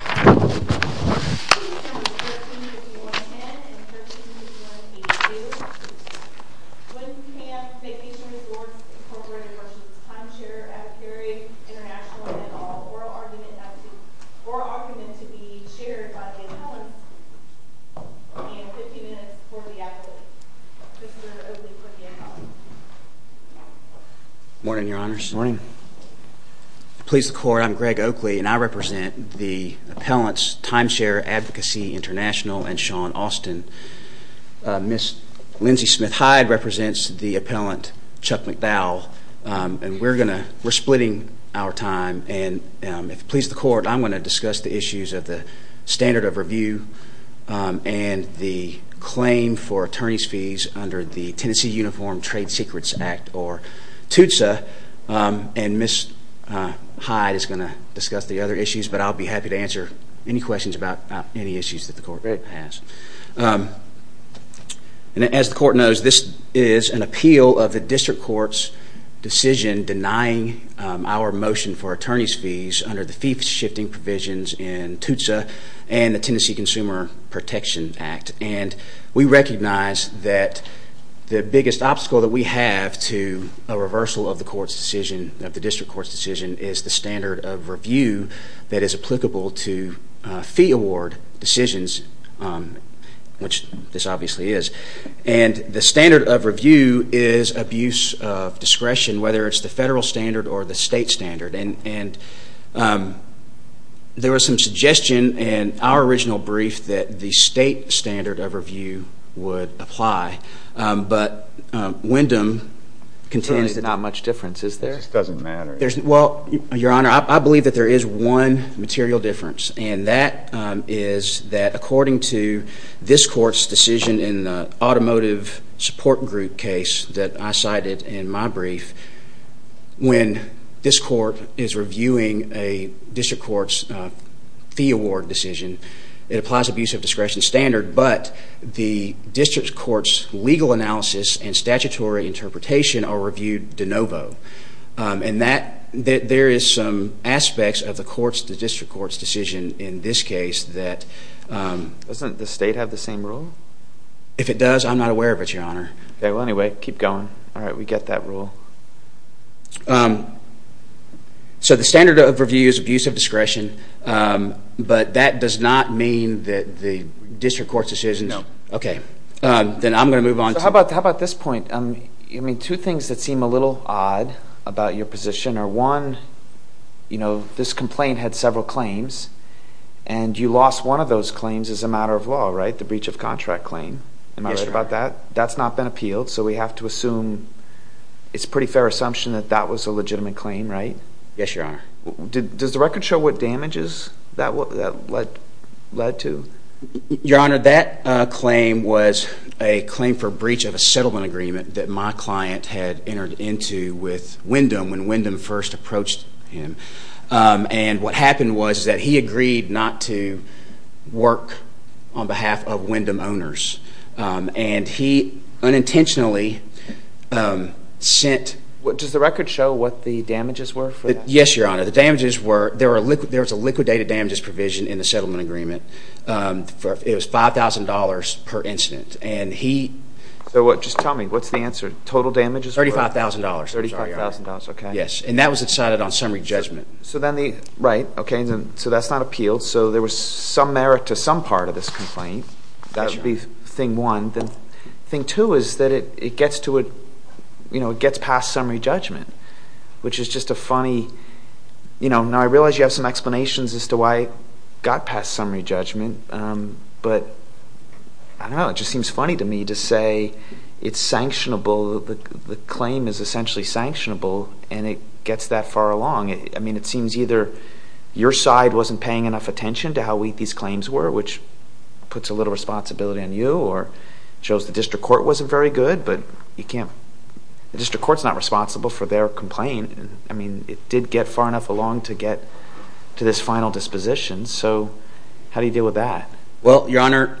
Item 13.1.10 and 13.1.82, Wendham Vacation Resorts, Incorporated v. Timeshare Advocacy, International and all, oral argument to be shared by Dan Collins and 50 minutes for the advocate. Mr. Oakley for Dan Collins. Morning, Your Honors. If it pleases the Court, I'm Greg Oakley and I represent the appellants, Timeshare Advocacy, International and Sean Austin. Ms. Lindsey Smith-Hyde represents the appellant, Chuck McDowell, and we're splitting our time and if it pleases the Court, I'm going to discuss the issues of the standard of review and the claim for attorney's fees under the Tennessee Uniform Trade Secrets Act, or TUTSA, and Ms. Hyde is going to discuss the other issues, but I'll be happy to answer any questions about any issues that the Court may have. As the Court knows, this is an appeal of the District Court's decision denying our motion for attorney's fees under the fee-shifting provisions in TUTSA and the Tennessee Consumer Protection Act, and we recognize that the biggest obstacle that we have to a reversal of the District Court's decision is the standard of review that is applicable to fee award decisions, which this obviously is, and the standard of review is abuse of discretion, whether it's the federal standard or the state standard, and there was some suggestion in our original brief that the state standard of review would apply, but Wyndham contends there's not much difference, is there? It just doesn't matter. Well, Your Honor, I believe that there is one material difference, and that is that according to this Court's decision in the automotive support group case that I cited in my brief, when this Court is reviewing a District Court's fee award decision, it applies abuse of discretion standard, but the District Court's legal analysis and statutory interpretation are reviewed de novo, and there is some aspects of the District Court's decision in this case that... Doesn't the state have the same rule? If it does, I'm not aware of it, Your Honor. Okay, well, anyway, keep going. All right, we get that rule. So the standard of review is abuse of discretion, but that does not mean that the District Court's decision... No. Okay, then I'm going to move on to... How about this point? I mean, two things that seem a little odd about your position are, one, you know, this complaint had several claims, and you lost one of those claims as a matter of law, right, the breach of contract claim. Yes, Your Honor. That's not been appealed, so we have to assume it's a pretty fair assumption that that was a legitimate claim, right? Yes, Your Honor. Does the record show what damages that led to? Your Honor, that claim was a claim for breach of a settlement agreement that my client had entered into with Wyndham when Wyndham first approached him, and what happened was that he agreed not to work on behalf of Wyndham owners, and he unintentionally sent... Does the record show what the damages were for that? Yes, Your Honor. The damages were, there was a liquidated damages provision in the settlement agreement. It was $5,000 per incident, and he... So just tell me, what's the answer? Total damages were... $35,000. $35,000, okay. Yes, and that was decided on summary judgment. Right, okay, so that's not appealed, so there was some merit to some part of this complaint. That would be thing one. Thing two is that it gets past summary judgment, which is just a funny... Now, I realize you have some explanations as to why it got past summary judgment, but I don't know, it just seems funny to me to say it's sanctionable, the claim is essentially sanctionable, and it gets that far along. I mean, it seems either your side wasn't paying enough attention to how weak these claims were, which puts a little responsibility on you, or shows the district court wasn't very good, but you can't, the district court's not responsible for their complaint. I mean, it did get far enough along to get to this final disposition, so how do you deal with that? Well, Your Honor,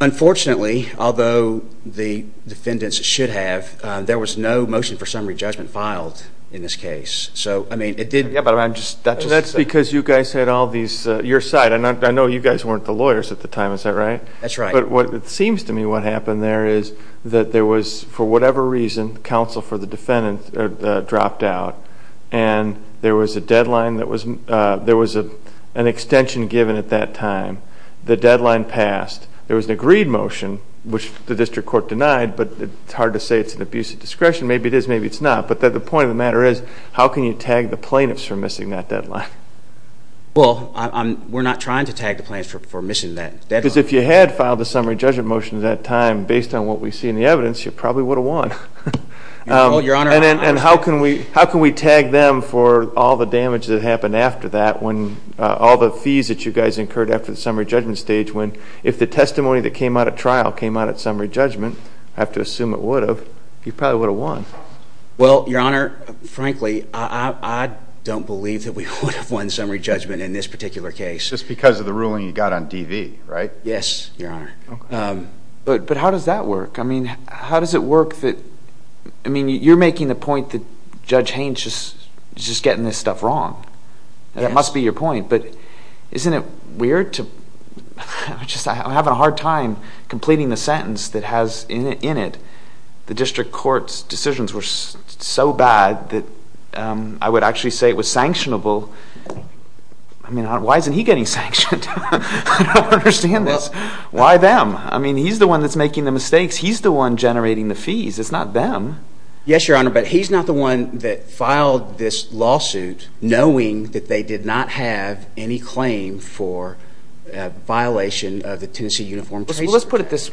unfortunately, although the defendants should have, there was no motion for summary judgment filed in this case, so, I mean, it did... That's because you guys had all these, your side, and I know you guys weren't the lawyers at the time, is that right? That's right. But it seems to me what happened there is that there was, for whatever reason, counsel for the defendant dropped out, and there was a deadline that was, there was an extension given at that time, the deadline passed, there was an agreed motion, which the district court denied, but it's hard to say it's an abuse of discretion. Maybe it is, maybe it's not. But the point of the matter is, how can you tag the plaintiffs for missing that deadline? Well, we're not trying to tag the plaintiffs for missing that deadline. Because if you had filed a summary judgment motion at that time, based on what we see in the evidence, you probably would have won. Your Honor, I'm sorry. And how can we tag them for all the damage that happened after that, when all the fees that you guys incurred after the summary judgment stage, when if the testimony that came out at trial came out at summary judgment, I have to assume it would have, you probably would have won. Well, Your Honor, frankly, I don't believe that we would have won summary judgment in this particular case. Just because of the ruling you got on DV, right? Yes, Your Honor. But how does that work? I mean, how does it work that, I mean, you're making the point that Judge Haynes is just getting this stuff wrong. That must be your point. But isn't it weird to, I'm having a hard time completing the sentence that has in it, the district court's decisions were so bad that I would actually say it was sanctionable. I mean, why isn't he getting sanctioned? I don't understand this. Why them? I mean, he's the one that's making the mistakes. He's the one generating the fees. It's not them. Yes, Your Honor, but he's not the one that filed this lawsuit. Knowing that they did not have any claim for a violation of the Tennessee Uniform Tracer Act. Let's put it this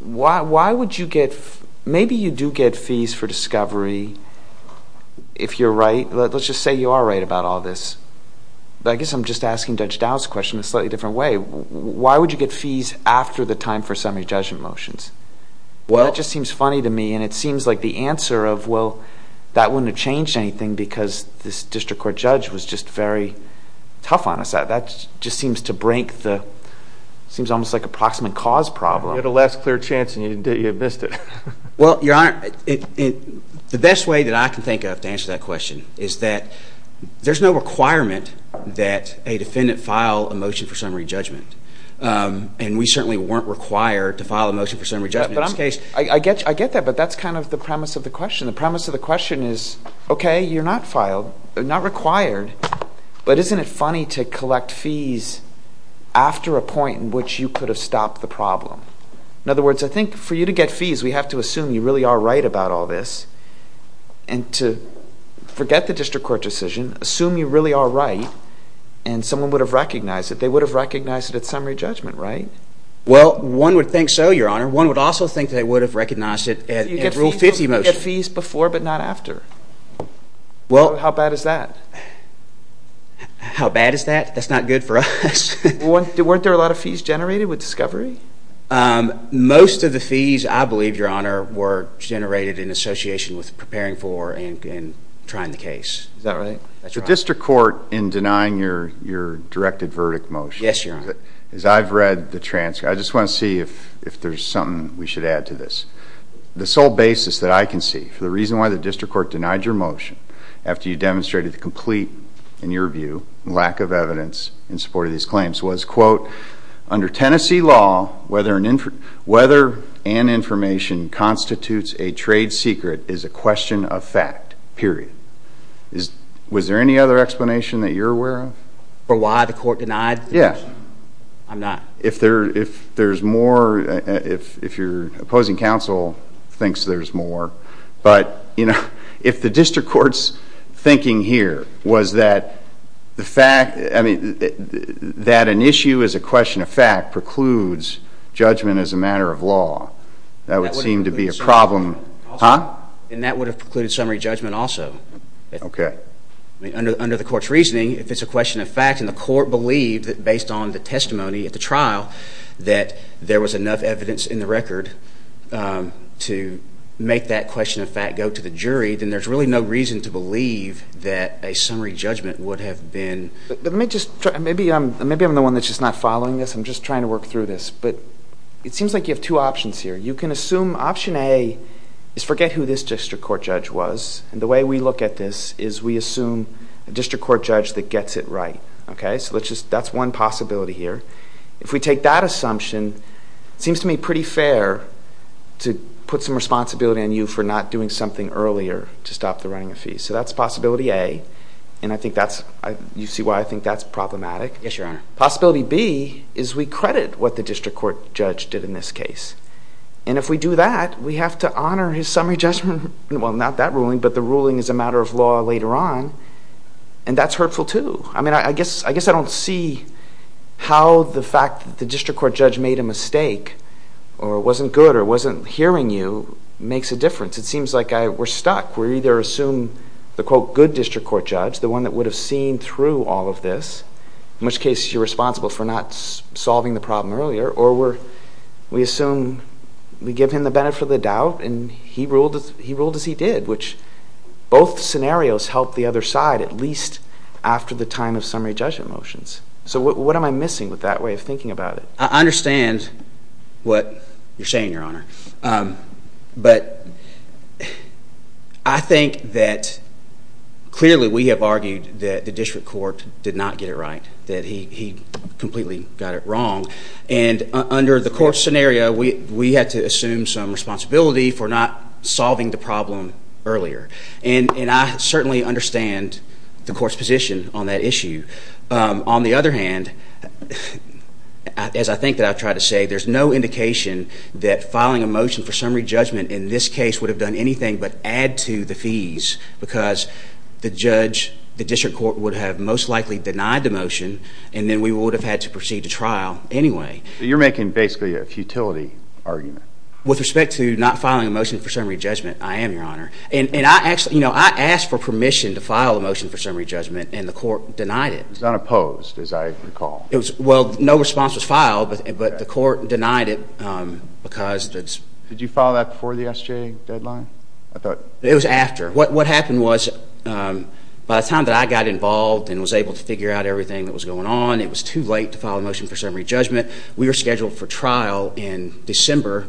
way. Why would you get, maybe you do get fees for discovery if you're right. Let's just say you are right about all this. But I guess I'm just asking Judge Dowd's question in a slightly different way. Why would you get fees after the time for summary judgment motions? That just seems funny to me and it seems like the answer of, well, that wouldn't have changed anything because this district court judge was just very tough on us. That just seems to break the, seems almost like a proximate cause problem. You had a last clear chance and you missed it. Well, Your Honor, the best way that I can think of to answer that question is that there's no requirement that a defendant file a motion for summary judgment. And we certainly weren't required to file a motion for summary judgment in this case. I get that, but that's kind of the premise of the question. The premise of the question is, okay, you're not required, but isn't it funny to collect fees after a point in which you could have stopped the problem? In other words, I think for you to get fees, we have to assume you really are right about all this. And to forget the district court decision, assume you really are right, and someone would have recognized it. They would have recognized it at summary judgment, right? Well, one would think so, Your Honor. One would also think they would have recognized it at Rule 50 motion. You get fees before but not after. How bad is that? How bad is that? That's not good for us. Weren't there a lot of fees generated with discovery? Most of the fees, I believe, Your Honor, were generated in association with preparing for and trying the case. Is that right? The district court in denying your directed verdict motion, as I've read the transcript, I just want to see if there's something we should add to this. The sole basis that I can see for the reason why the district court denied your motion after you demonstrated the complete, in your view, lack of evidence in support of these claims, was, quote, under Tennessee law, whether an information constitutes a trade secret is a question of fact, period. Was there any other explanation that you're aware of? For why the court denied the motion? Yeah. I'm not. If there's more, if your opposing counsel thinks there's more, but if the district court's thinking here was that an issue is a question of fact precludes judgment as a matter of law, that would seem to be a problem. And that would have precluded summary judgment also. Okay. Under the court's reasoning, if it's a question of fact, and the court believed that based on the testimony at the trial that there was enough evidence in the record to make that question of fact go to the jury, then there's really no reason to believe that a summary judgment would have been... Let me just try... Maybe I'm the one that's just not following this. I'm just trying to work through this. But it seems like you have two options here. You can assume option A is forget who this district court judge was, and the way we look at this is we assume a district court judge that gets it right. So that's one possibility here. If we take that assumption, it seems to me pretty fair to put some responsibility on you for not doing something earlier to stop the running of fees. So that's possibility A, and you see why I think that's problematic. Yes, Your Honor. Possibility B is we credit what the district court judge did in this case, and if we do that, we have to honor his summary judgment. Well, not that ruling, but the ruling is a matter of law later on, and that's hurtful too. I mean, I guess I don't see how the fact that the district court judge made a mistake or wasn't good or wasn't hearing you makes a difference. It seems like we're stuck. We either assume the, quote, good district court judge, the one that would have seen through all of this, in which case you're responsible for not solving the problem earlier, or we assume we give him the benefit of the doubt and he ruled as he did, which both scenarios help the other side at least after the time of summary judgment motions. So what am I missing with that way of thinking about it? I understand what you're saying, Your Honor, but I think that clearly we have argued that the district court did not get it right, that he completely got it wrong, and under the court scenario, we had to assume some responsibility for not solving the problem earlier, and I certainly understand the court's position on that issue. On the other hand, as I think that I've tried to say, there's no indication that filing a motion for summary judgment in this case would have done anything but add to the fees because the district court would have most likely denied the motion, and then we would have had to proceed to trial anyway. You're making basically a futility argument. With respect to not filing a motion for summary judgment, I am, Your Honor. And I asked for permission to file a motion for summary judgment, and the court denied it. It was unopposed, as I recall. Well, no response was filed, but the court denied it. Did you file that before the SJ deadline? It was after. What happened was by the time that I got involved and was able to figure out everything that was going on, it was too late to file a motion for summary judgment. We were scheduled for trial in December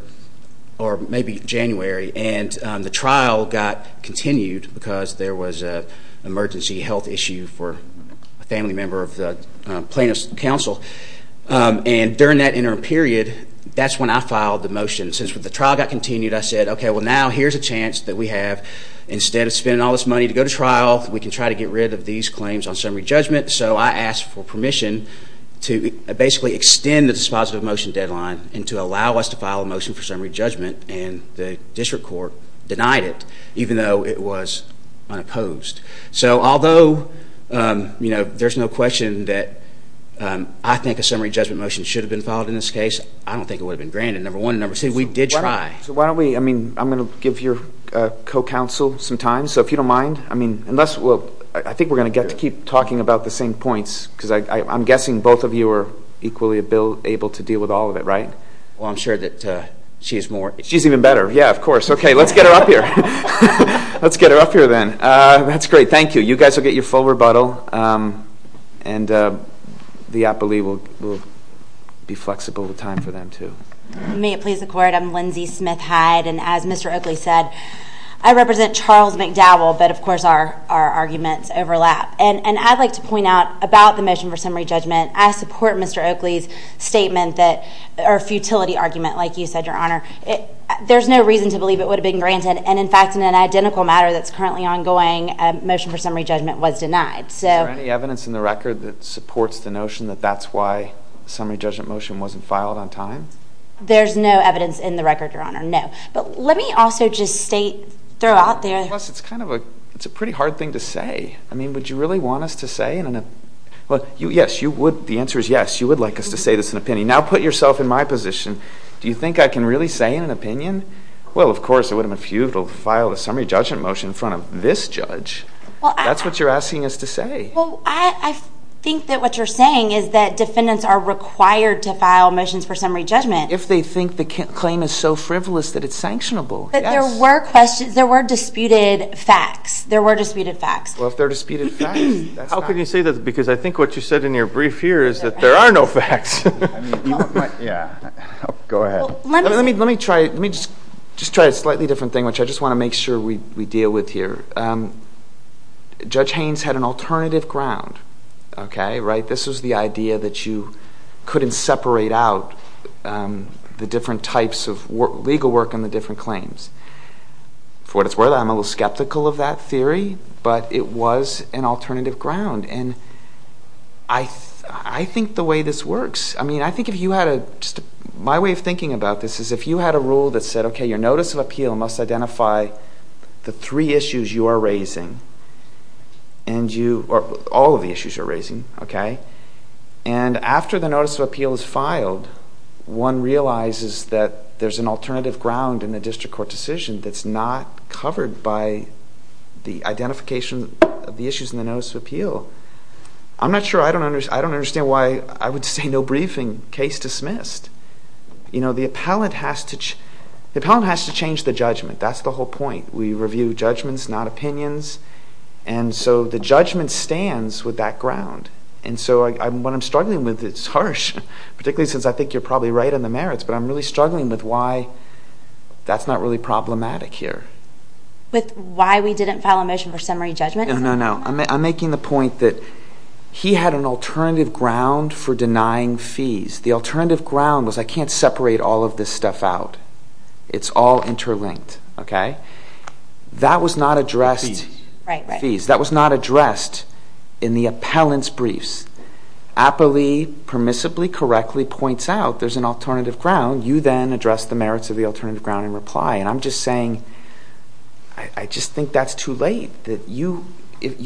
or maybe January, and the trial got continued because there was an emergency health issue for a family member of the plaintiff's counsel. And during that interim period, that's when I filed the motion. Since the trial got continued, I said, okay, well, now here's a chance that we have. Instead of spending all this money to go to trial, we can try to get rid of these claims on summary judgment. So I asked for permission to basically extend the dispositive motion deadline and to allow us to file a motion for summary judgment, and the district court denied it, even though it was unopposed. So although, you know, there's no question that I think a summary judgment motion should have been filed in this case, I don't think it would have been granted, number one. Number two, we did try. So why don't we, I mean, I'm going to give your co-counsel some time. So if you don't mind, I mean, unless, well, I think we're going to get to keep talking about the same points because I'm guessing both of you are equally able to deal with all of it, right? Well, I'm sure that she's more. She's even better. Yeah, of course. Okay, let's get her up here. Let's get her up here then. That's great. Thank you. You guys will get your full rebuttal, and the appellee will be flexible with time for them too. May it please the court, I'm Lindsay Smith-Hyde, and as Mr. Oakley said, I represent Charles McDowell, but of course our arguments overlap. And I'd like to point out about the motion for summary judgment, I support Mr. Oakley's statement or futility argument, like you said, Your Honor. There's no reason to believe it would have been granted. And, in fact, in an identical matter that's currently ongoing, a motion for summary judgment was denied. Is there any evidence in the record that supports the notion that that's why the summary judgment motion wasn't filed on time? There's no evidence in the record, Your Honor, no. But let me also just state throughout there. Plus, it's kind of a pretty hard thing to say. I mean, would you really want us to say? Well, yes, you would. The answer is yes. You would like us to say this in an opinion. Now put yourself in my position. Do you think I can really say in an opinion? Well, of course, it would have been futile to file a summary judgment motion in front of this judge. That's what you're asking us to say. Well, I think that what you're saying is that defendants are required to file motions for summary judgment. If they think the claim is so frivolous that it's sanctionable, yes. But there were disputed facts. There were disputed facts. Well, if they're disputed facts, that's fine. How can you say that? Because I think what you said in your brief here is that there are no facts. Yeah. Go ahead. Let me just try a slightly different thing, which I just want to make sure we deal with here. Judge Haynes had an alternative ground, okay, right? This was the idea that you couldn't separate out the different types of legal work and the different claims. For what it's worth, I'm a little skeptical of that theory, but it was an alternative ground. And I think the way this works, I mean, I think if you had a, just my way of thinking about this is if you had a rule that said, okay, your notice of appeal must identify the three issues you are raising and you, or all of the issues you're raising, okay? And after the notice of appeal is filed, one realizes that there's an alternative ground in the district court decision that's not covered by the identification of the issues in the notice of appeal. I'm not sure, I don't understand why I would say no briefing, case dismissed. You know, the appellant has to change the judgment. That's the whole point. We review judgments, not opinions, and so the judgment stands with that ground. And so what I'm struggling with, it's harsh, particularly since I think you're probably right on the merits, but I'm really struggling with why that's not really problematic here. With why we didn't file a motion for summary judgment? No, no, no. I'm making the point that he had an alternative ground for denying fees. The alternative ground was I can't separate all of this stuff out. It's all interlinked, okay? That was not addressed. Fees. Fees. That was not addressed in the appellant's briefs. Appellee permissibly, correctly points out there's an alternative ground. You then address the merits of the alternative ground in reply. And I'm just saying I just think that's too late. You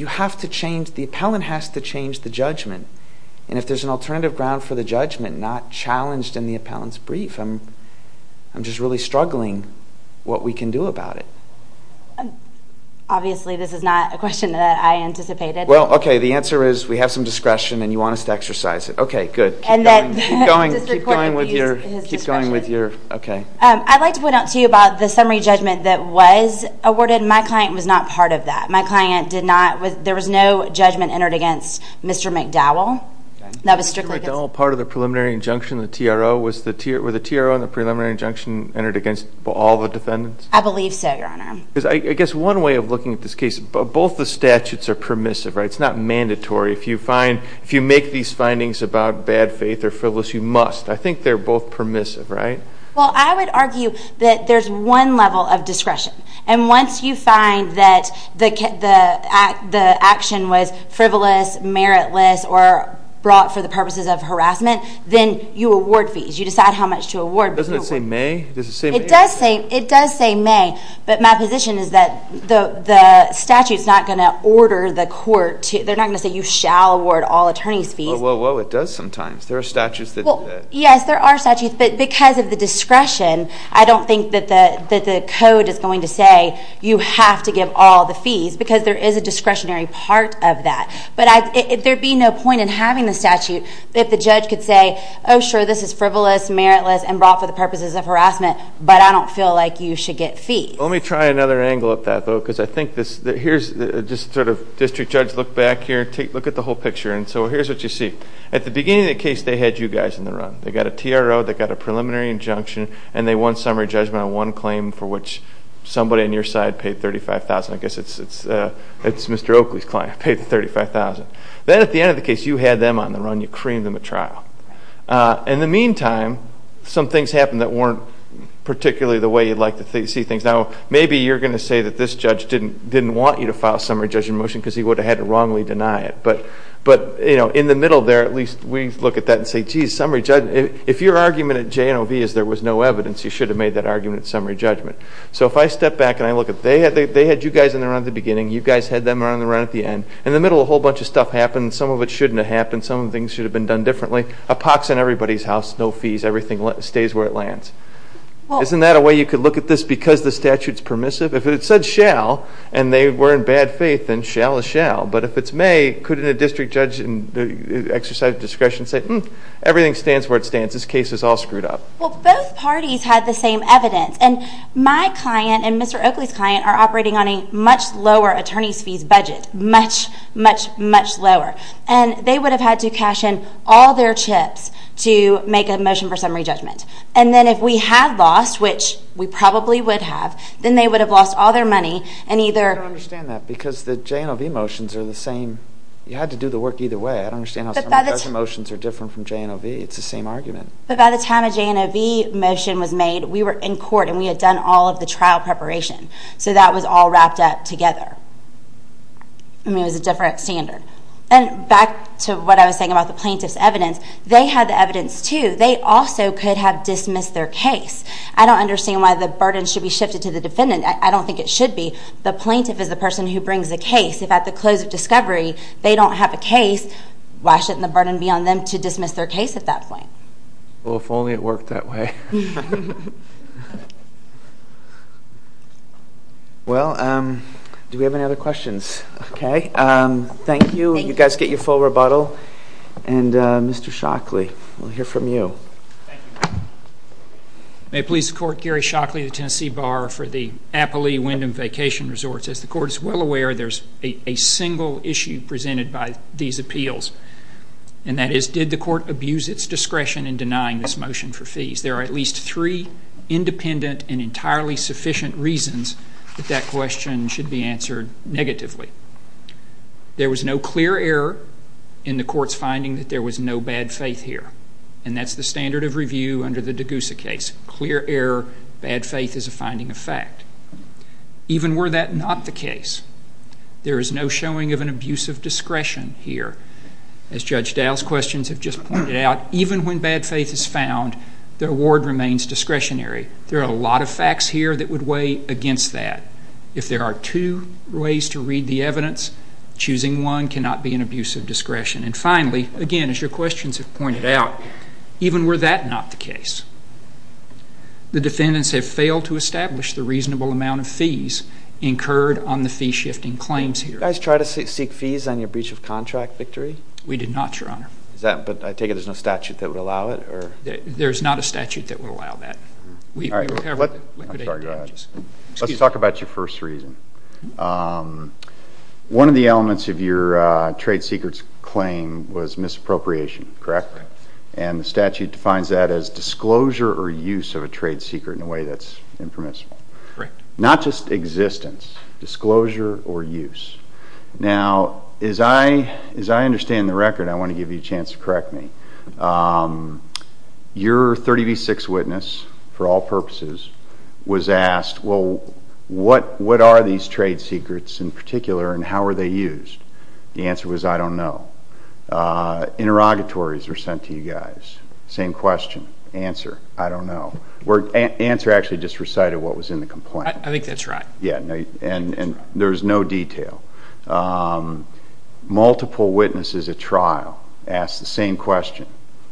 have to change, the appellant has to change the judgment. And if there's an alternative ground for the judgment not challenged in the appellant's brief, I'm just really struggling what we can do about it. Obviously this is not a question that I anticipated. Well, okay, the answer is we have some discretion and you want us to exercise it. Okay, good. Keep going. Keep going with your, okay. I'd like to point out to you about the summary judgment that was awarded. My client was not part of that. My client did not, there was no judgment entered against Mr. McDowell. Okay. That was strictly against. Was Mr. McDowell part of the preliminary injunction, the TRO? Were the TRO and the preliminary injunction entered against all the defendants? I believe so, Your Honor. I guess one way of looking at this case, both the statutes are permissive, right? It's not mandatory. If you make these findings about bad faith or frivolous, you must. I think they're both permissive, right? Well, I would argue that there's one level of discretion. And once you find that the action was frivolous, meritless, or brought for the purposes of harassment, then you award fees. You decide how much to award. Doesn't it say may? It does say may. But my position is that the statute is not going to order the court to, they're not going to say you shall award all attorneys' fees. Whoa, whoa, whoa. It does sometimes. There are statutes that do that. Yes, there are statutes. But because of the discretion, I don't think that the code is going to say you have to give all the fees because there is a discretionary part of that. But there would be no point in having the statute if the judge could say, oh, sure, this is frivolous, meritless, and brought for the purposes of harassment, but I don't feel like you should get fees. Let me try another angle of that, though, because I think this, here's just sort of district judge look back here, look at the whole picture. And so here's what you see. At the beginning of the case, they had you guys in the run. They got a TRO, they got a preliminary injunction, and they won summary judgment on one claim for which somebody on your side paid $35,000. I guess it's Mr. Oakley's client who paid the $35,000. Then at the end of the case, you had them on the run. You creamed them at trial. In the meantime, some things happened that weren't particularly the way you'd like to see things. Now, maybe you're going to say that this judge didn't want you to file a summary judgment motion because he would have had to wrongly deny it. But in the middle there, at least we look at that and say, geez, summary judgment, if your argument at J&OV is there was no evidence, you should have made that argument at summary judgment. So if I step back and I look at, they had you guys in the run at the beginning, you guys had them on the run at the end. In the middle, a whole bunch of stuff happened. Some of it shouldn't have happened. Some of the things should have been done differently. A pox in everybody's house, no fees, everything stays where it lands. Isn't that a way you could look at this because the statute's permissive? If it said shall and they were in bad faith, then shall is shall. But if it's may, couldn't a district judge exercise discretion and say, everything stands where it stands. This case is all screwed up. Well, both parties had the same evidence. And my client and Mr. Oakley's client are operating on a much lower attorney's fees budget, much, much, much lower. And they would have had to cash in all their chips to make a motion for summary judgment. And then if we had lost, which we probably would have, then they would have lost all their money and either I don't understand that because the J&OV motions are the same. You had to do the work either way. I don't understand how summary judgment motions are different from J&OV. It's the same argument. But by the time a J&OV motion was made, we were in court and we had done all of the trial preparation. So that was all wrapped up together. I mean, it was a different standard. And back to what I was saying about the plaintiff's evidence, they had the evidence too. They also could have dismissed their case. I don't understand why the burden should be shifted to the defendant. I don't think it should be. The plaintiff is the person who brings the case. If at the close of discovery they don't have a case, why shouldn't the burden be on them to dismiss their case at that point? Well, if only it worked that way. Well, do we have any other questions? Okay. Thank you. You guys get your full rebuttal. And Mr. Shockley, we'll hear from you. Thank you. May it please the Court, Gary Shockley of the Tennessee Bar for the Appalee Wyndham Vacation Resorts. As the Court is well aware, there's a single issue presented by these appeals, and that is did the Court abuse its discretion in denying this motion for fees? There are at least three independent and entirely sufficient reasons that that question should be answered negatively. There was no clear error in the Court's finding that there was no bad faith here, and that's the standard of review under the Degussa case. Clear error, bad faith is a finding of fact. Even were that not the case, there is no showing of an abuse of discretion here. As Judge Dow's questions have just pointed out, even when bad faith is found, the award remains discretionary. There are a lot of facts here that would weigh against that. If there are two ways to read the evidence, choosing one cannot be an abuse of discretion. And finally, again, as your questions have pointed out, even were that not the case, the defendants have failed to establish the reasonable amount of fees incurred on the fee-shifting claims here. Did you guys try to seek fees on your breach of contract victory? We did not, Your Honor. But I take it there's no statute that would allow it? There's not a statute that would allow that. I'm sorry, go ahead. Let's talk about your first reason. One of the elements of your trade secrets claim was misappropriation, correct? That's correct. And the statute defines that as disclosure or use of a trade secret in a way that's impermissible. Correct. Not just existence, disclosure or use. Now, as I understand the record, I want to give you a chance to correct me. Your 30 v. 6 witness, for all purposes, was asked, well, what are these trade secrets in particular and how are they used? The answer was, I don't know. Interrogatories were sent to you guys. Same question, answer, I don't know. The answer actually just recited what was in the complaint. I think that's right. Yeah, and there's no detail. Multiple witnesses at trial asked the same question.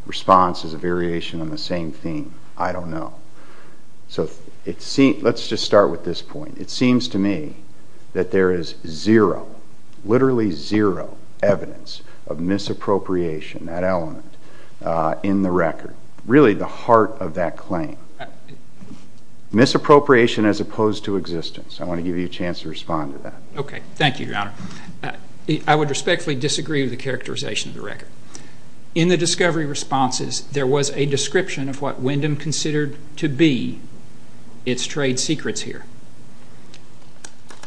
Response is a variation on the same theme, I don't know. So let's just start with this point. It seems to me that there is zero, literally zero, evidence of misappropriation, that element, in the record. Really the heart of that claim. Misappropriation as opposed to existence. I want to give you a chance to respond to that. Thank you, Your Honor. I would respectfully disagree with the characterization of the record. In the discovery responses, there was a description of what Wyndham considered to be its trade secrets here.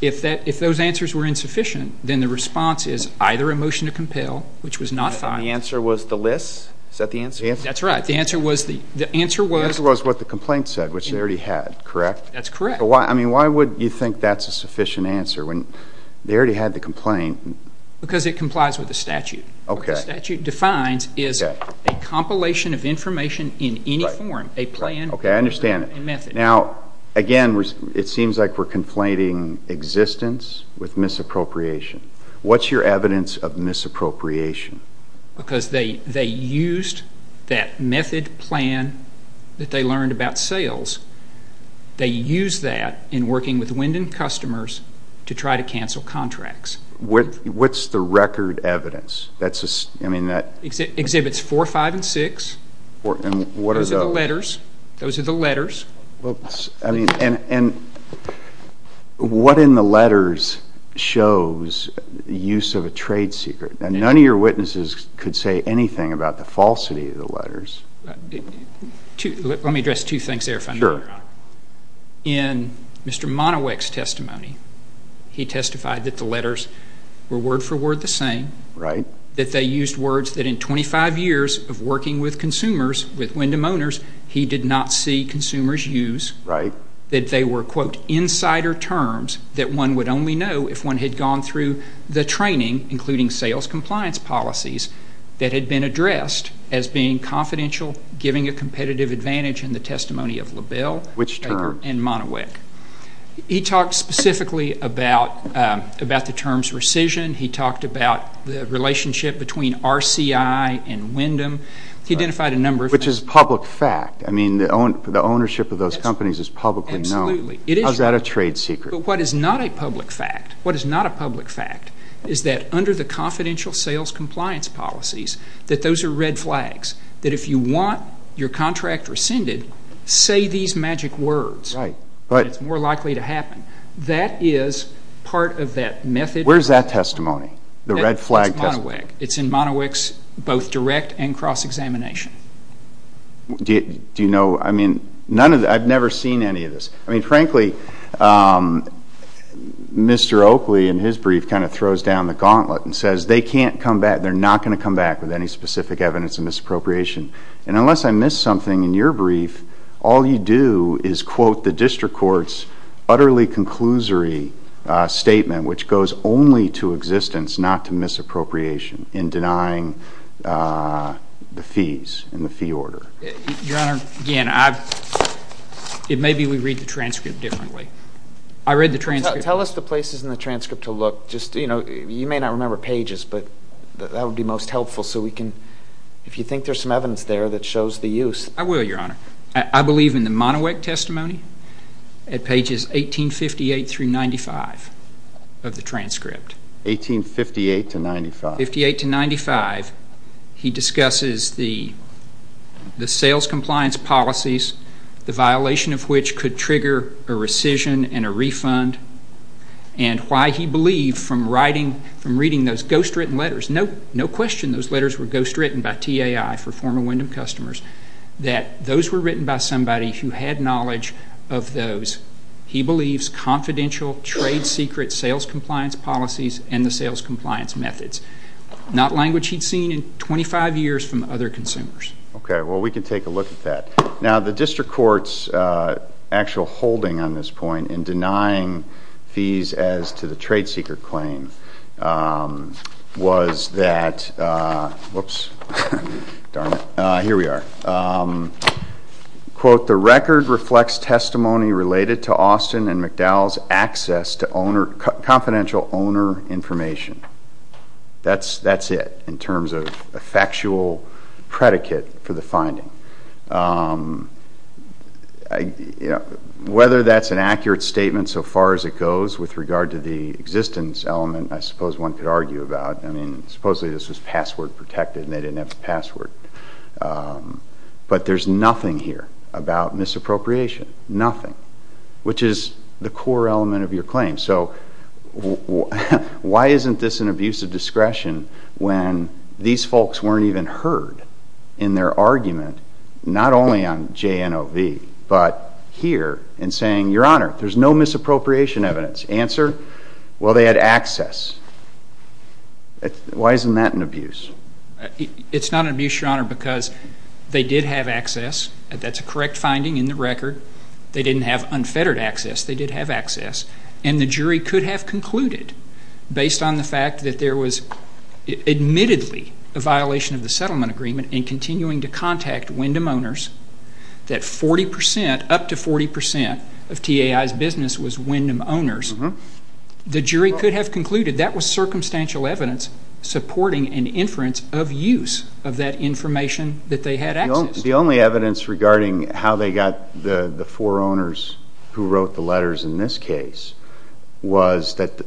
If those answers were insufficient, then the response is either a motion to compel, which was not filed. The answer was the list? Is that the answer? That's right. The answer was what the complaint said, which they already had, correct? That's correct. Why would you think that's a sufficient answer when they already had the complaint? Because it complies with the statute. What the statute defines is a compilation of information in any form, a plan, a method. Okay, I understand. Now, again, it seems like we're conflating existence with misappropriation. What's your evidence of misappropriation? Because they used that method plan that they learned about sales. They used that in working with Wyndham customers to try to cancel contracts. What's the record evidence? Exhibits 4, 5, and 6. And what are those? Those are the letters. What in the letters shows the use of a trade secret? None of your witnesses could say anything about the falsity of the letters. Let me address two things there if I may, Your Honor. Sure. In Mr. Monowick's testimony, he testified that the letters were word for word the same. Right. That they used words that in 25 years of working with consumers, with Wyndham owners, he did not see consumers use. Right. That they were, quote, insider terms that one would only know if one had gone through the training, including sales compliance policies that had been addressed as being confidential, giving a competitive advantage in the testimony of LaBelle and Monowick. Which term? He talked specifically about the terms rescission. He talked about the relationship between RCI and Wyndham. He identified a number of things. Which is public fact. I mean, the ownership of those companies is publicly known. Absolutely. How is that a trade secret? But what is not a public fact, what is not a public fact, is that under the confidential sales compliance policies, that those are red flags, that if you want your contract rescinded, say these magic words. Right. It's more likely to happen. That is part of that method. Where is that testimony, the red flag testimony? It's in Monowick's both direct and cross-examination. Do you know, I mean, I've never seen any of this. I mean, frankly, Mr. Oakley in his brief kind of throws down the gauntlet and says they can't come back, they're not going to come back with any specific evidence of misappropriation. And unless I missed something in your brief, all you do is quote the district court's utterly conclusory statement, which goes only to existence, not to misappropriation, in denying the fees and the fee order. Your Honor, again, maybe we read the transcript differently. I read the transcript. Tell us the places in the transcript to look. Just, you know, you may not remember pages, but that would be most helpful so we can, if you think there's some evidence there that shows the use. I will, Your Honor. I believe in the Monowick testimony at pages 1858 through 95 of the transcript. 1858 to 95. 1858 to 95. He discusses the sales compliance policies, the violation of which could trigger a rescission and a refund, and why he believed from reading those ghostwritten letters, no question those letters were ghostwritten by TAI for former Wyndham customers, that those were written by somebody who had knowledge of those, he believes, confidential trade secret sales compliance policies and the sales compliance methods, not language he'd seen in 25 years from other consumers. Okay. Well, we can take a look at that. Now, the district court's actual holding on this point in denying fees as to the trade secret claim was that, whoops, darn it. Here we are. Quote, the record reflects testimony related to Austin and McDowell's access to confidential owner information. That's it in terms of a factual predicate for the finding. Whether that's an accurate statement so far as it goes with regard to the existence element, I suppose one could argue about. I mean, supposedly this was password protected and they didn't have a password. But there's nothing here about misappropriation, nothing, which is the core element of your claim. So why isn't this an abuse of discretion when these folks weren't even heard in their argument, not only on JNOV, but here in saying, Your Honor, there's no misappropriation evidence. Answer, well, they had access. Why isn't that an abuse? It's not an abuse, Your Honor, because they did have access. That's a correct finding in the record. They didn't have unfettered access. They did have access. And the jury could have concluded, based on the fact that there was admittedly a violation of the settlement agreement in continuing to contact Wyndham owners, that 40 percent, up to 40 percent of TIA's business was Wyndham owners. The jury could have concluded that was circumstantial evidence supporting an inference of use of that information that they had access to. The only evidence regarding how they got the four owners who wrote the letters in this case was that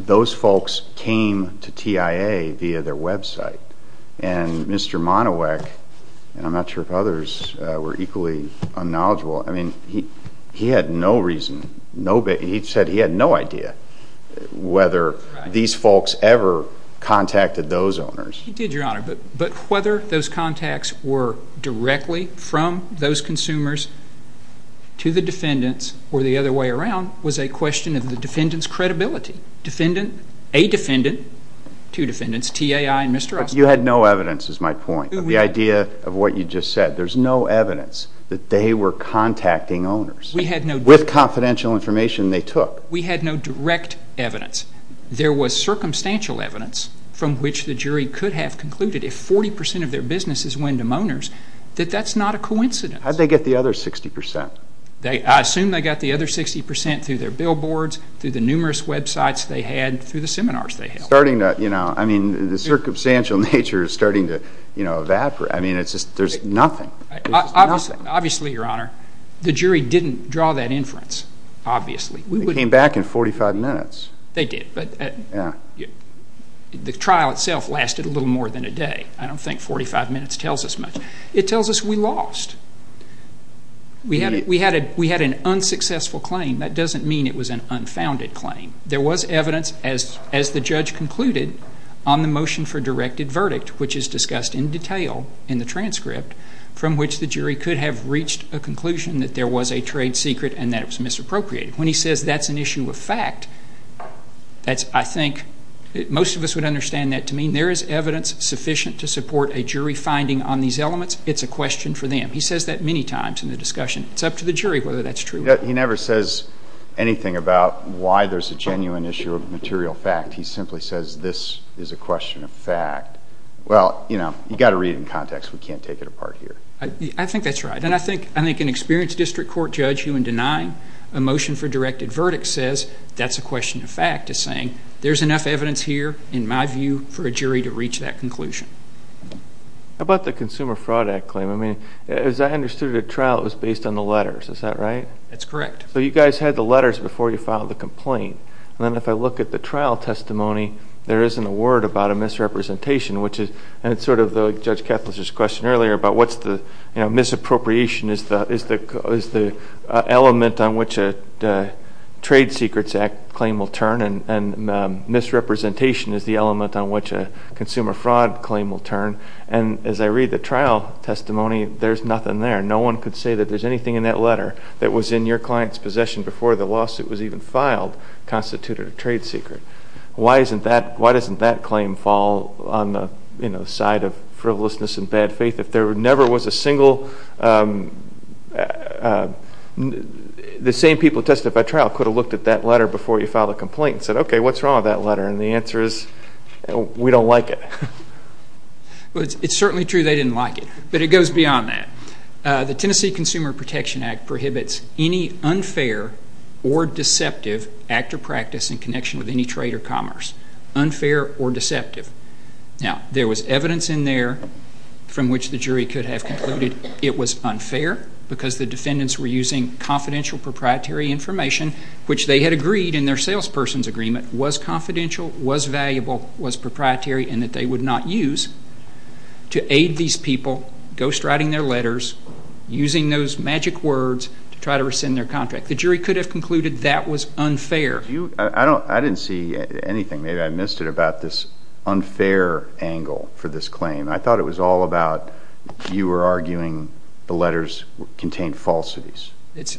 those folks came to TIA via their website. And Mr. Monowak, and I'm not sure if others were equally unknowledgeable, he had no reason, he said he had no idea whether these folks ever contacted those owners. He did, Your Honor. But whether those contacts were directly from those consumers to the defendants or the other way around was a question of the defendant's credibility. Defendant, a defendant, two defendants, TIA and Mr. Austin. But you had no evidence is my point. The idea of what you just said, there's no evidence that they were contacting owners. We had no direct evidence. With confidential information they took. We had no direct evidence. There was circumstantial evidence from which the jury could have concluded if 40 percent of their business is Wyndham owners, that that's not a coincidence. How'd they get the other 60 percent? I assume they got the other 60 percent through their billboards, through the numerous websites they had, through the seminars they held. I mean, the circumstantial nature is starting to evaporate. I mean, there's nothing. Obviously, Your Honor, the jury didn't draw that inference, obviously. They came back in 45 minutes. They did, but the trial itself lasted a little more than a day. I don't think 45 minutes tells us much. It tells us we lost. We had an unsuccessful claim. That doesn't mean it was an unfounded claim. There was evidence, as the judge concluded, on the motion for directed verdict, which is discussed in detail in the transcript, from which the jury could have reached a conclusion that there was a trade secret and that it was misappropriated. When he says that's an issue of fact, I think most of us would understand that to mean there is evidence sufficient to support a jury finding on these elements. It's a question for them. He says that many times in the discussion. It's up to the jury whether that's true. He never says anything about why there's a genuine issue of material fact. He simply says this is a question of fact. Well, you know, you've got to read it in context. We can't take it apart here. I think that's right. And I think an experienced district court judge, who in denying a motion for directed verdict says that's a question of fact, is saying there's enough evidence here, in my view, for a jury to reach that conclusion. How about the Consumer Fraud Act claim? I mean, as I understood it at trial, it was based on the letters. Is that right? It's correct. So you guys had the letters before you filed the complaint. And then if I look at the trial testimony, there isn't a word about a misrepresentation, and it's sort of like Judge Ketler's question earlier about what's the, you know, misappropriation is the element on which a Trade Secrets Act claim will turn and misrepresentation is the element on which a consumer fraud claim will turn. And as I read the trial testimony, there's nothing there. No one could say that there's anything in that letter that was in your client's possession before the lawsuit was even filed constituted a trade secret. Why doesn't that claim fall on the, you know, side of frivolousness and bad faith? If there never was a single ñ the same people who testified at trial could have looked at that letter before you filed a complaint and said, okay, what's wrong with that letter? And the answer is, we don't like it. Well, it's certainly true they didn't like it, but it goes beyond that. The Tennessee Consumer Protection Act prohibits any unfair or deceptive act or practice in connection with any trade or commerce, unfair or deceptive. Now, there was evidence in there from which the jury could have concluded it was unfair because the defendants were using confidential proprietary information, which they had agreed in their salesperson's agreement was confidential, was valuable, was proprietary, and that they would not use to aid these people ghostwriting their letters, using those magic words to try to rescind their contract. The jury could have concluded that was unfair. I didn't see anything. Maybe I missed it about this unfair angle for this claim. I thought it was all about you were arguing the letters contained falsities. It's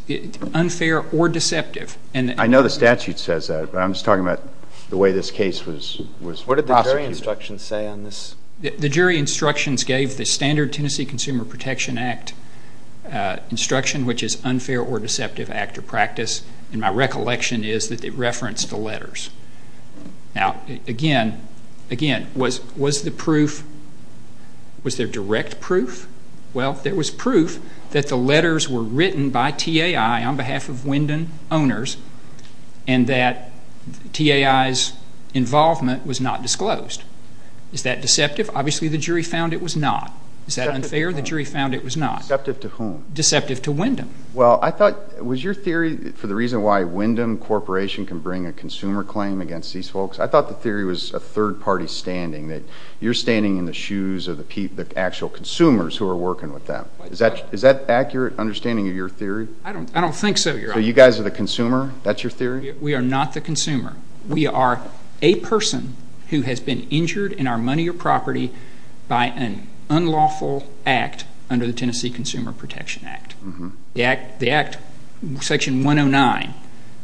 unfair or deceptive. I know the statute says that, but I'm just talking about the way this case was prosecuted. What did the jury instructions say on this? The jury instructions gave the standard Tennessee Consumer Protection Act instruction, which is unfair or deceptive act or practice, and my recollection is that it referenced the letters. Now, again, was there direct proof? Well, there was proof that the letters were written by TAI on behalf of Wyndham owners and that TAI's involvement was not disclosed. Is that deceptive? Obviously, the jury found it was not. Is that unfair? The jury found it was not. Deceptive to whom? Deceptive to Wyndham. Well, I thought, was your theory for the reason why Wyndham Corporation can bring a consumer claim against these folks, I thought the theory was a third-party standing, that you're standing in the shoes of the actual consumers who are working with them. Is that an accurate understanding of your theory? I don't think so, Your Honor. So you guys are the consumer? That's your theory? We are not the consumer. We are a person who has been injured in our money or property by an unlawful act under the Tennessee Consumer Protection Act. The Act, Section 109,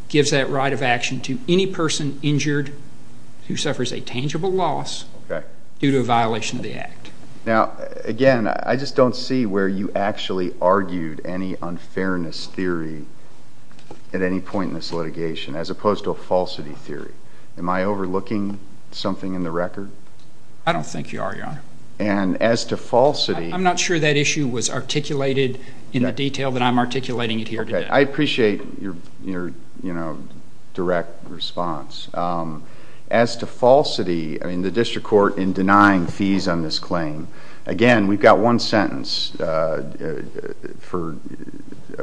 gives that right of action to any person injured who suffers a tangible loss due to a violation of the Act. Now, again, I just don't see where you actually argued any unfairness theory at any point in this litigation as opposed to a falsity theory. Am I overlooking something in the record? I don't think you are, Your Honor. And as to falsity... I'm not sure that issue was articulated in the detail that I'm articulating it here today. Okay. I appreciate your direct response. As to falsity, I mean, the district court in denying fees on this claim, again, we've got one sentence for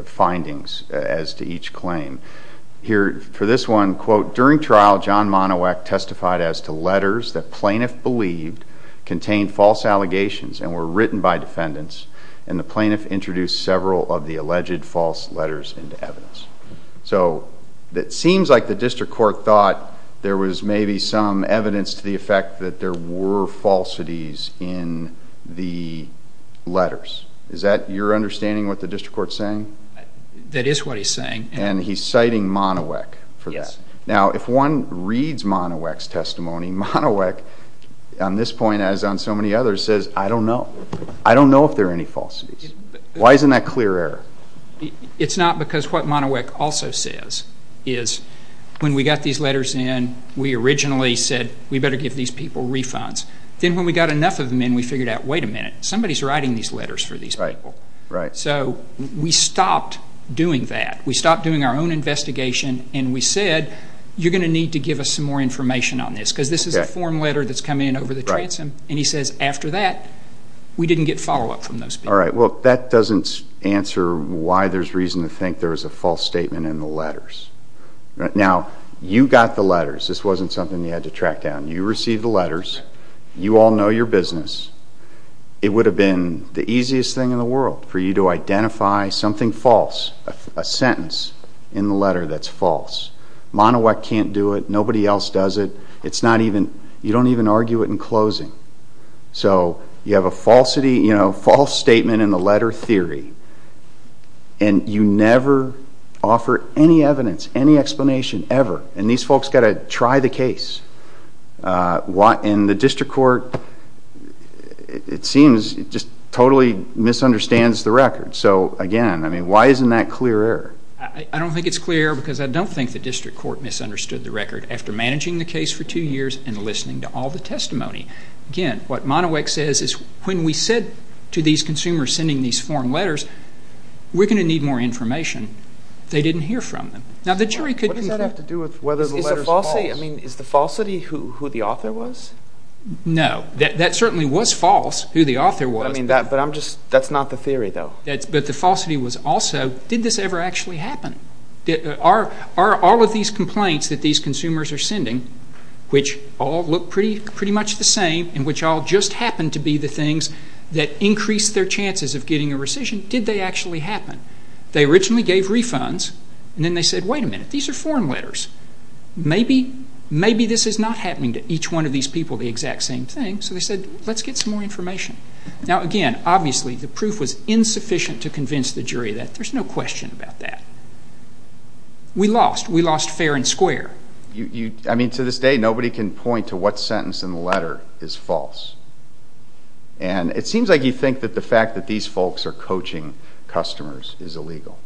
findings as to each claim. Here, for this one, quote, And the plaintiff introduced several of the alleged false letters into evidence. So it seems like the district court thought there was maybe some evidence to the effect that there were falsities in the letters. Is that your understanding of what the district court is saying? That is what he's saying. And he's citing Monowick for this. Yes. Now, if one reads Monowick's testimony, Monowick, on this point, as on so many others, says, I don't know. I don't know if there are any falsities. Why isn't that clear error? It's not because what Monowick also says is, when we got these letters in, we originally said, we better give these people refunds. Then when we got enough of them in, we figured out, wait a minute, somebody's writing these letters for these people. Right. So we stopped doing that. We stopped doing our own investigation, and we said, you're going to need to give us some more information on this, because this is a form letter that's come in over the transom. And he says, after that, we didn't get follow-up from those people. All right. Well, that doesn't answer why there's reason to think there was a false statement in the letters. Now, you got the letters. This wasn't something you had to track down. You received the letters. You all know your business. It would have been the easiest thing in the world for you to identify something false, a sentence in the letter that's false. Monowick can't do it. Nobody else does it. You don't even argue it in closing. So you have a false statement in the letter theory, and you never offer any evidence, any explanation, ever. And these folks got to try the case. And the district court, it seems, just totally misunderstands the record. So, again, I mean, why isn't that clear error? I don't think it's clear because I don't think the district court misunderstood the record after managing the case for two years and listening to all the testimony. Again, what Monowick says is when we said to these consumers sending these form letters, we're going to need more information. They didn't hear from them. Now, the jury could— What does that have to do with whether the letters are false? I mean, is the falsity who the author was? No. That certainly was false, who the author was. I mean, but I'm just—that's not the theory, though. But the falsity was also— Did this ever actually happen? Are all of these complaints that these consumers are sending, which all look pretty much the same and which all just happen to be the things that increase their chances of getting a rescission, did they actually happen? They originally gave refunds, and then they said, wait a minute, these are form letters. Maybe this is not happening to each one of these people, the exact same thing. So they said, let's get some more information. Now, again, obviously, the proof was insufficient to convince the jury that there's no question about that. We lost. We lost fair and square. I mean, to this day, nobody can point to what sentence in the letter is false. And it seems like you think that the fact that these folks are coaching customers is illegal.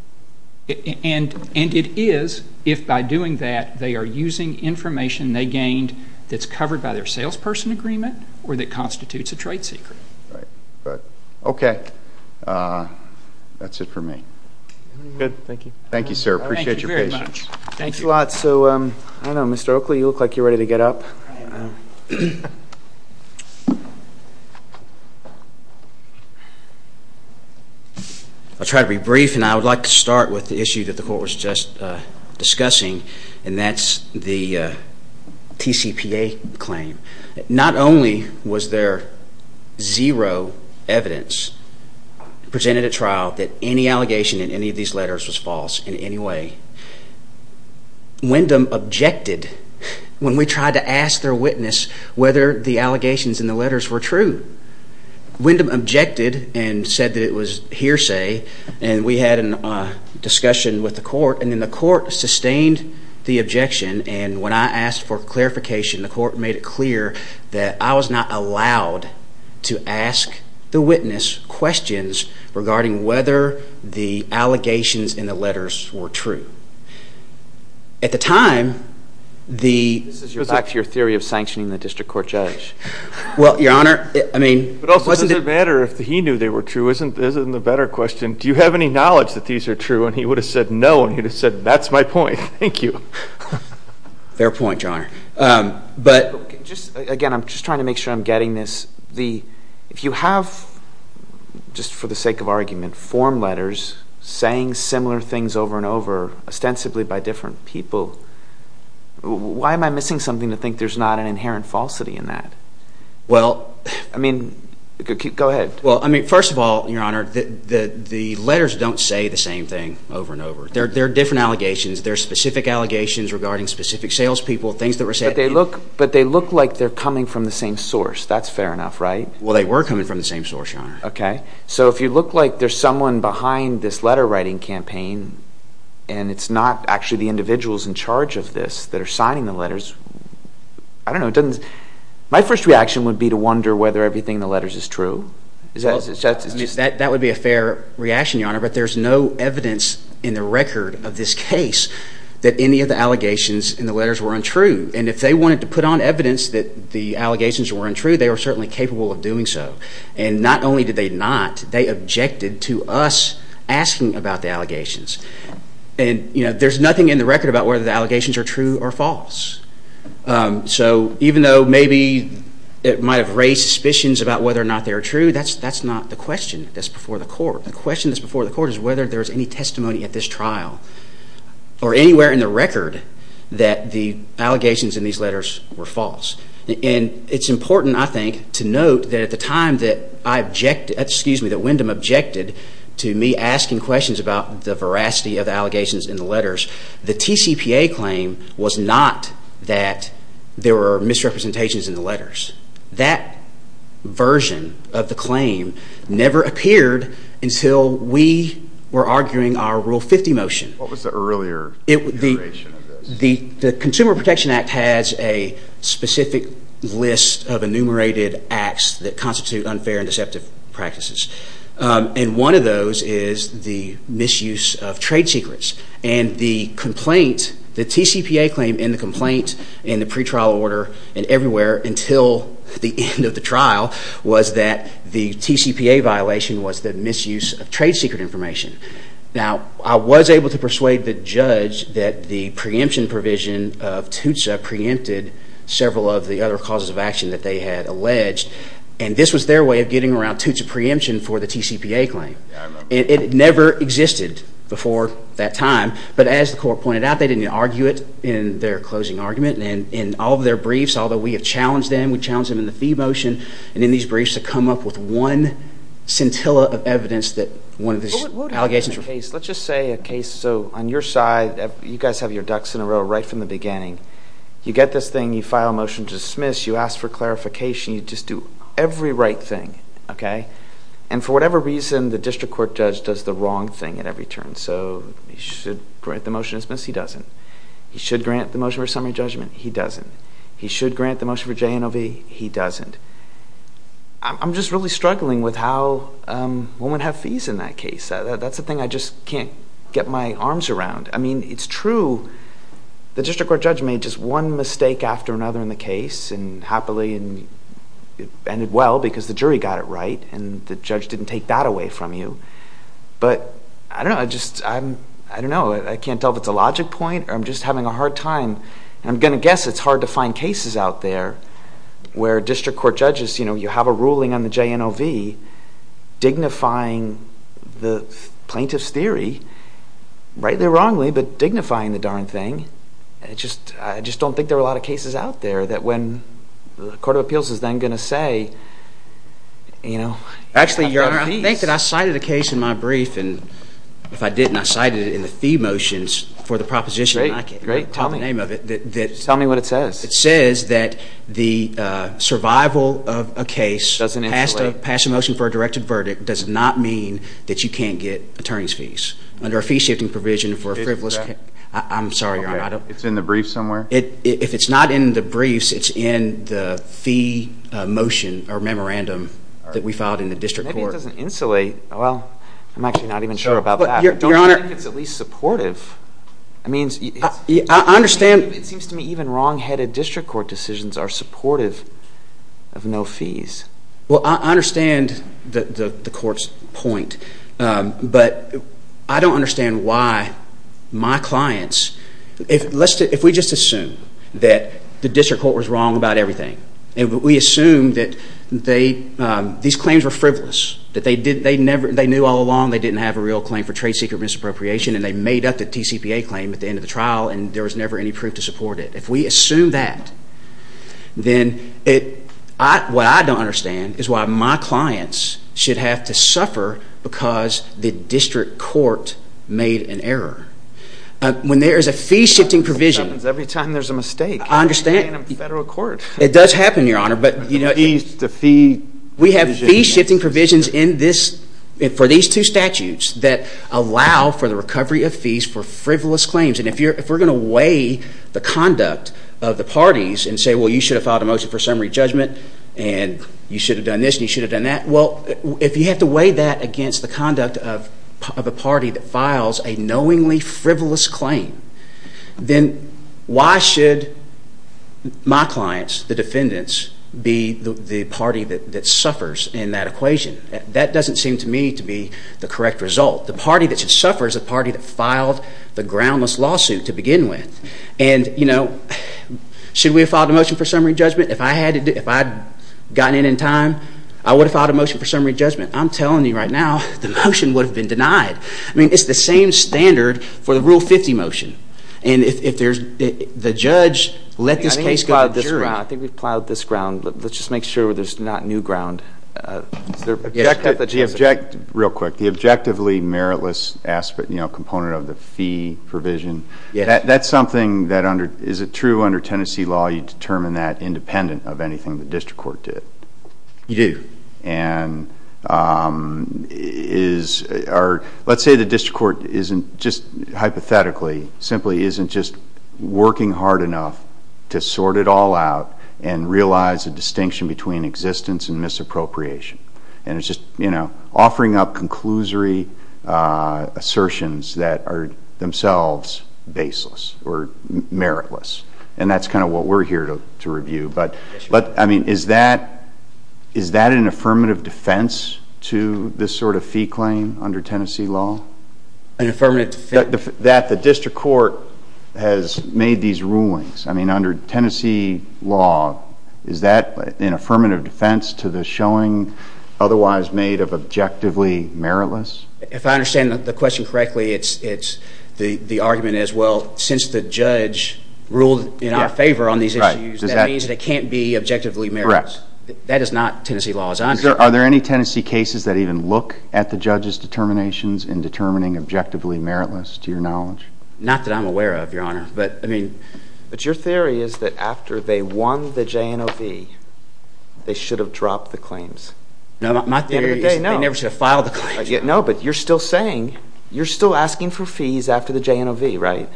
And it is if, by doing that, they are using information they gained that's covered by their salesperson agreement or that constitutes a trade secret. Right. Okay. That's it for me. Good. Thank you. Thank you, sir. I appreciate your patience. Thank you very much. Thanks a lot. So, I don't know, Mr. Oakley, you look like you're ready to get up. I'll try to be brief, and I would like to start with the issue that the court was just discussing, and that's the TCPA claim. Not only was there zero evidence presented at trial that any allegation in any of these letters was false in any way, Wyndham objected when we tried to ask their witness whether the allegations in the letters were true. Wyndham objected and said that it was hearsay, and we had a discussion with the court, and then the court sustained the objection, and when I asked for clarification, the court made it clear that I was not allowed to ask the witness questions regarding whether the allegations in the letters were true. At the time, the— This is back to your theory of sanctioning the district court judge. Well, Your Honor, I mean— But also, does it matter if he knew they were true? Isn't the better question, do you have any knowledge that these are true? And he would have said no, and he would have said, that's my point. Thank you. Fair point, Your Honor. But— Again, I'm just trying to make sure I'm getting this. If you have, just for the sake of argument, form letters saying similar things over and over, ostensibly by different people, why am I missing something to think there's not an inherent falsity in that? Well— I mean, go ahead. Well, I mean, first of all, Your Honor, the letters don't say the same thing over and over. They're different allegations. They're specific allegations regarding specific salespeople, things that were said— But they look like they're coming from the same source. That's fair enough, right? Well, they were coming from the same source, Your Honor. Okay. So if you look like there's someone behind this letter-writing campaign, and it's not actually the individuals in charge of this that are signing the letters, I don't know, it doesn't— My first reaction would be to wonder whether everything in the letters is true. That would be a fair reaction, Your Honor. But there's no evidence in the record of this case that any of the allegations in the letters were untrue. And if they wanted to put on evidence that the allegations were untrue, they were certainly capable of doing so. And not only did they not, they objected to us asking about the allegations. And, you know, there's nothing in the record about whether the allegations are true or false. So even though maybe it might have raised suspicions about whether or not they are true, that's not the question. That's before the court. The question that's before the court is whether there's any testimony at this trial or anywhere in the record that the allegations in these letters were false. And it's important, I think, to note that at the time that I objected— excuse me, that Wyndham objected to me asking questions about the veracity of the allegations in the letters, the TCPA claim was not that there were misrepresentations in the letters. That version of the claim never appeared until we were arguing our Rule 50 motion. What was the earlier iteration of this? The Consumer Protection Act has a specific list of enumerated acts that constitute unfair and deceptive practices. And one of those is the misuse of trade secrets. And the complaint—the TCPA claim in the complaint in the pretrial order and everywhere until the end of the trial— was that the TCPA violation was the misuse of trade secret information. Now, I was able to persuade the judge that the preemption provision of TOOTSA preempted several of the other causes of action that they had alleged. And this was their way of getting around TOOTSA preemption for the TCPA claim. It never existed before that time. But as the court pointed out, they didn't argue it in their closing argument. And in all of their briefs, although we have challenged them, we challenged them in the fee motion, and in these briefs to come up with one scintilla of evidence that one of the allegations were— Let's just say a case. So on your side, you guys have your ducks in a row right from the beginning. You get this thing. You file a motion to dismiss. You ask for clarification. You just do every right thing. And for whatever reason, the district court judge does the wrong thing at every turn. So he should grant the motion to dismiss. He doesn't. He should grant the motion for summary judgment. He doesn't. He should grant the motion for JNOV. He doesn't. I'm just really struggling with how women have fees in that case. That's the thing I just can't get my arms around. I mean, it's true. The district court judge made just one mistake after another in the case, and happily it ended well because the jury got it right, and the judge didn't take that away from you. But I don't know. I can't tell if it's a logic point or I'm just having a hard time. I'm going to guess it's hard to find cases out there where district court judges, you have a ruling on the JNOV dignifying the plaintiff's theory, rightly or wrongly, but dignifying the darn thing. I just don't think there are a lot of cases out there that when the court of appeals is then going to say, you know, I've got fees. Actually, Your Honor, I think that I cited a case in my brief, and if I didn't, I cited it in the fee motions for the proposition. Great. Great. Tell me. Call the name of it. Tell me what it says. It says that the survival of a case passed a motion for a directed verdict does not mean that you can't get attorney's fees under a fee-shifting provision for a frivolous case. I'm sorry, Your Honor. It's in the brief somewhere? If it's not in the briefs, it's in the fee motion or memorandum that we filed in the district court. Maybe it doesn't insulate. Well, I'm actually not even sure about that. Your Honor. I don't think it's at least supportive. I mean, it seems to me even wrongheaded district court decisions are supportive of no fees. Well, I understand the court's point, but I don't understand why my clients, if we just assume that the district court was wrong about everything and we assume that these claims were frivolous, that they knew all along they didn't have a real claim for trade secret misappropriation and they made up the TCPA claim at the end of the trial and there was never any proof to support it. If we assume that, then what I don't understand is why my clients should have to suffer because the district court made an error. When there is a fee-shifting provision. It happens every time there's a mistake in a federal court. It does happen, Your Honor. Fees to fee. We have fee-shifting provisions for these two statutes that allow for the recovery of fees for frivolous claims. And if we're going to weigh the conduct of the parties and say, well, you should have filed a motion for summary judgment and you should have done this and you should have done that. Well, if you have to weigh that against the conduct of a party that files a knowingly frivolous claim, then why should my clients, the defendants, be the party that suffers in that equation? That doesn't seem to me to be the correct result. The party that should suffer is the party that filed the groundless lawsuit to begin with. And, you know, should we have filed a motion for summary judgment? If I had gotten in in time, I would have filed a motion for summary judgment. I'm telling you right now, the motion would have been denied. I mean, it's the same standard for the Rule 50 motion. And if the judge let this case go to the jury. I think we've plowed this ground. Let's just make sure there's not new ground. Real quick. The objectively meritless component of the fee provision, that's something that is true under Tennessee law. You determine that independent of anything the district court did. You do. And let's say the district court isn't just hypothetically, simply isn't just working hard enough to sort it all out and realize the distinction between existence and misappropriation. And it's just, you know, offering up conclusory assertions that are themselves baseless or meritless. And that's kind of what we're here to review. But, I mean, is that an affirmative defense to this sort of fee claim under Tennessee law? An affirmative defense? That the district court has made these rulings. I mean, under Tennessee law, is that an affirmative defense to the showing otherwise made of objectively meritless? If I understand the question correctly, it's the argument as well. Since the judge ruled in our favor on these issues, that means it can't be objectively meritless. Correct. That is not Tennessee law as I understand it. Are there any Tennessee cases that even look at the judge's determinations in determining objectively meritless, to your knowledge? Not that I'm aware of, Your Honor. But, I mean. But your theory is that after they won the JNOV, they should have dropped the claims. No, my theory is that they never should have filed the claims. No, but you're still saying, you're still asking for fees after the JNOV, right?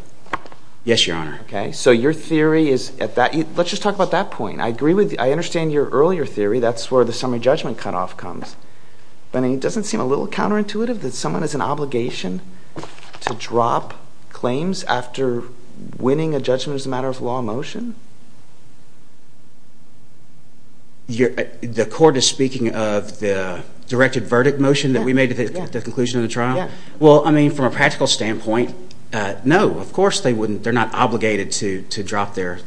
Yes, Your Honor. Okay. So your theory is at that, let's just talk about that point. I agree with, I understand your earlier theory, that's where the summary judgment cutoff comes. But it doesn't seem a little counterintuitive that someone has an obligation to drop claims after winning a judgment as a matter of law motion? The court is speaking of the directed verdict motion that we made at the conclusion of the trial? Yes. Well, I mean, from a practical standpoint, no, of course they wouldn't. They're not obligated to drop their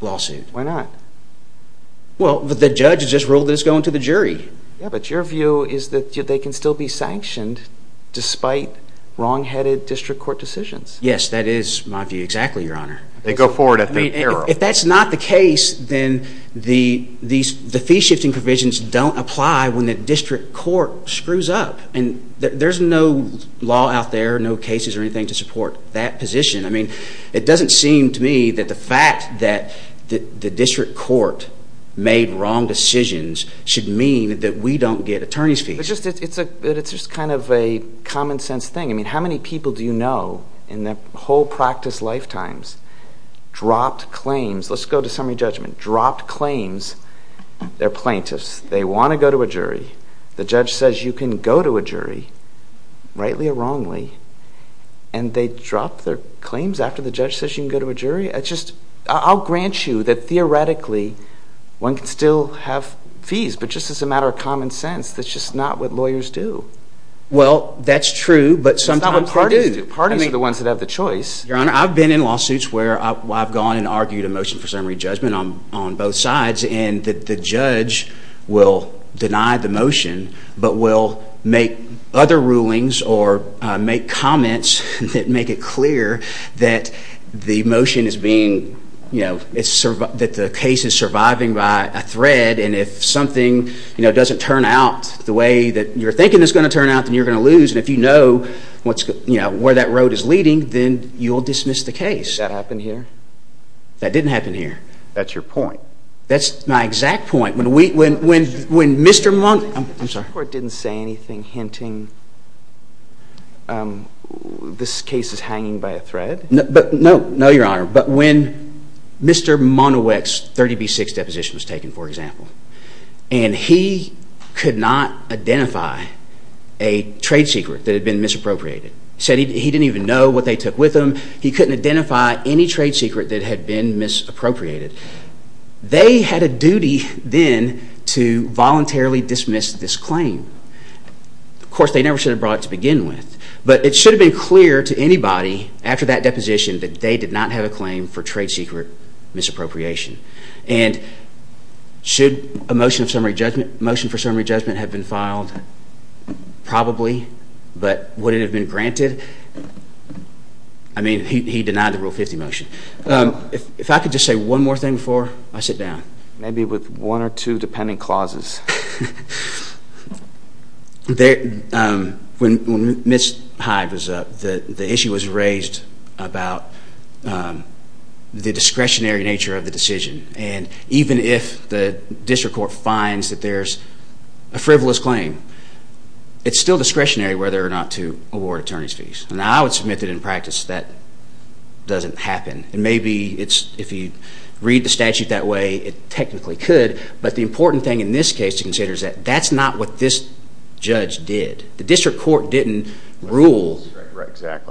lawsuit. Why not? Yeah, but your view is that they can still be sanctioned despite wrong-headed district court decisions. Yes, that is my view exactly, Your Honor. They go forward at their peril. If that's not the case, then the fee-shifting provisions don't apply when the district court screws up. And there's no law out there, no cases or anything to support that position. I mean, it doesn't seem to me that the fact that the district court made wrong decisions should mean that we don't get attorney's fees. It's just kind of a common sense thing. I mean, how many people do you know in their whole practice lifetimes dropped claims? Let's go to summary judgment. Dropped claims. They're plaintiffs. They want to go to a jury. The judge says you can go to a jury, rightly or wrongly. And they drop their claims after the judge says you can go to a jury? I'll grant you that theoretically one can still have fees, but just as a matter of common sense, that's just not what lawyers do. Well, that's true, but sometimes they do. It's not what parties do. Parties are the ones that have the choice. Your Honor, I've been in lawsuits where I've gone and argued a motion for summary judgment on both sides, and the judge will deny the motion but will make other rulings or make comments that make it clear that the motion is being, you know, that the case is surviving by a thread, and if something doesn't turn out the way that you're thinking it's going to turn out, then you're going to lose. And if you know where that road is leading, then you'll dismiss the case. Did that happen here? That didn't happen here. That's your point. That's my exact point. When Mr. Monoweck's 30B6 deposition was taken, for example, and he could not identify a trade secret that had been misappropriated. He said he didn't even know what they took with them. He couldn't identify any trade secret that had been misappropriated. They had a duty then to voluntarily dismiss this claim. Of course, they never should have brought it to begin with, but it should have been clear to anybody after that deposition that they did not have a claim for trade secret misappropriation. And should a motion for summary judgment have been filed? Probably, but would it have been granted? I mean, he denied the Rule 50 motion. If I could just say one more thing before I sit down. Maybe with one or two dependent clauses. When Ms. Hyde was up, the issue was raised about the discretionary nature of the decision. And even if the district court finds that there's a frivolous claim, it's still discretionary whether or not to award attorney's fees. And I would submit that in practice that doesn't happen. And maybe if you read the statute that way, it technically could. But the important thing in this case to consider is that that's not what this judge did. The district court didn't rule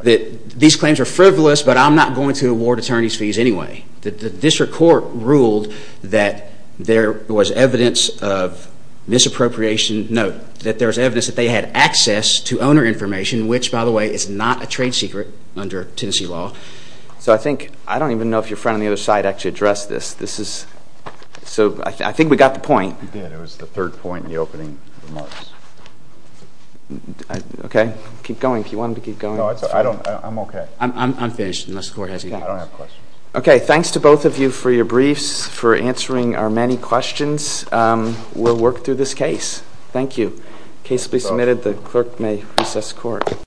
that these claims are frivolous, but I'm not going to award attorney's fees anyway. The district court ruled that there was evidence of misappropriation. Note that there was evidence that they had access to owner information, which, by the way, is not a trade secret under Tennessee law. So I think, I don't even know if your friend on the other side actually addressed this. This is, so I think we got the point. We did. It was the third point in the opening remarks. Okay. Keep going if you wanted to keep going. No, I'm okay. I'm finished unless the court has any questions. I don't have questions. Okay. Thanks to both of you for your briefs, for answering our many questions. We'll work through this case. Thank you. Case will be submitted. The clerk may recess court.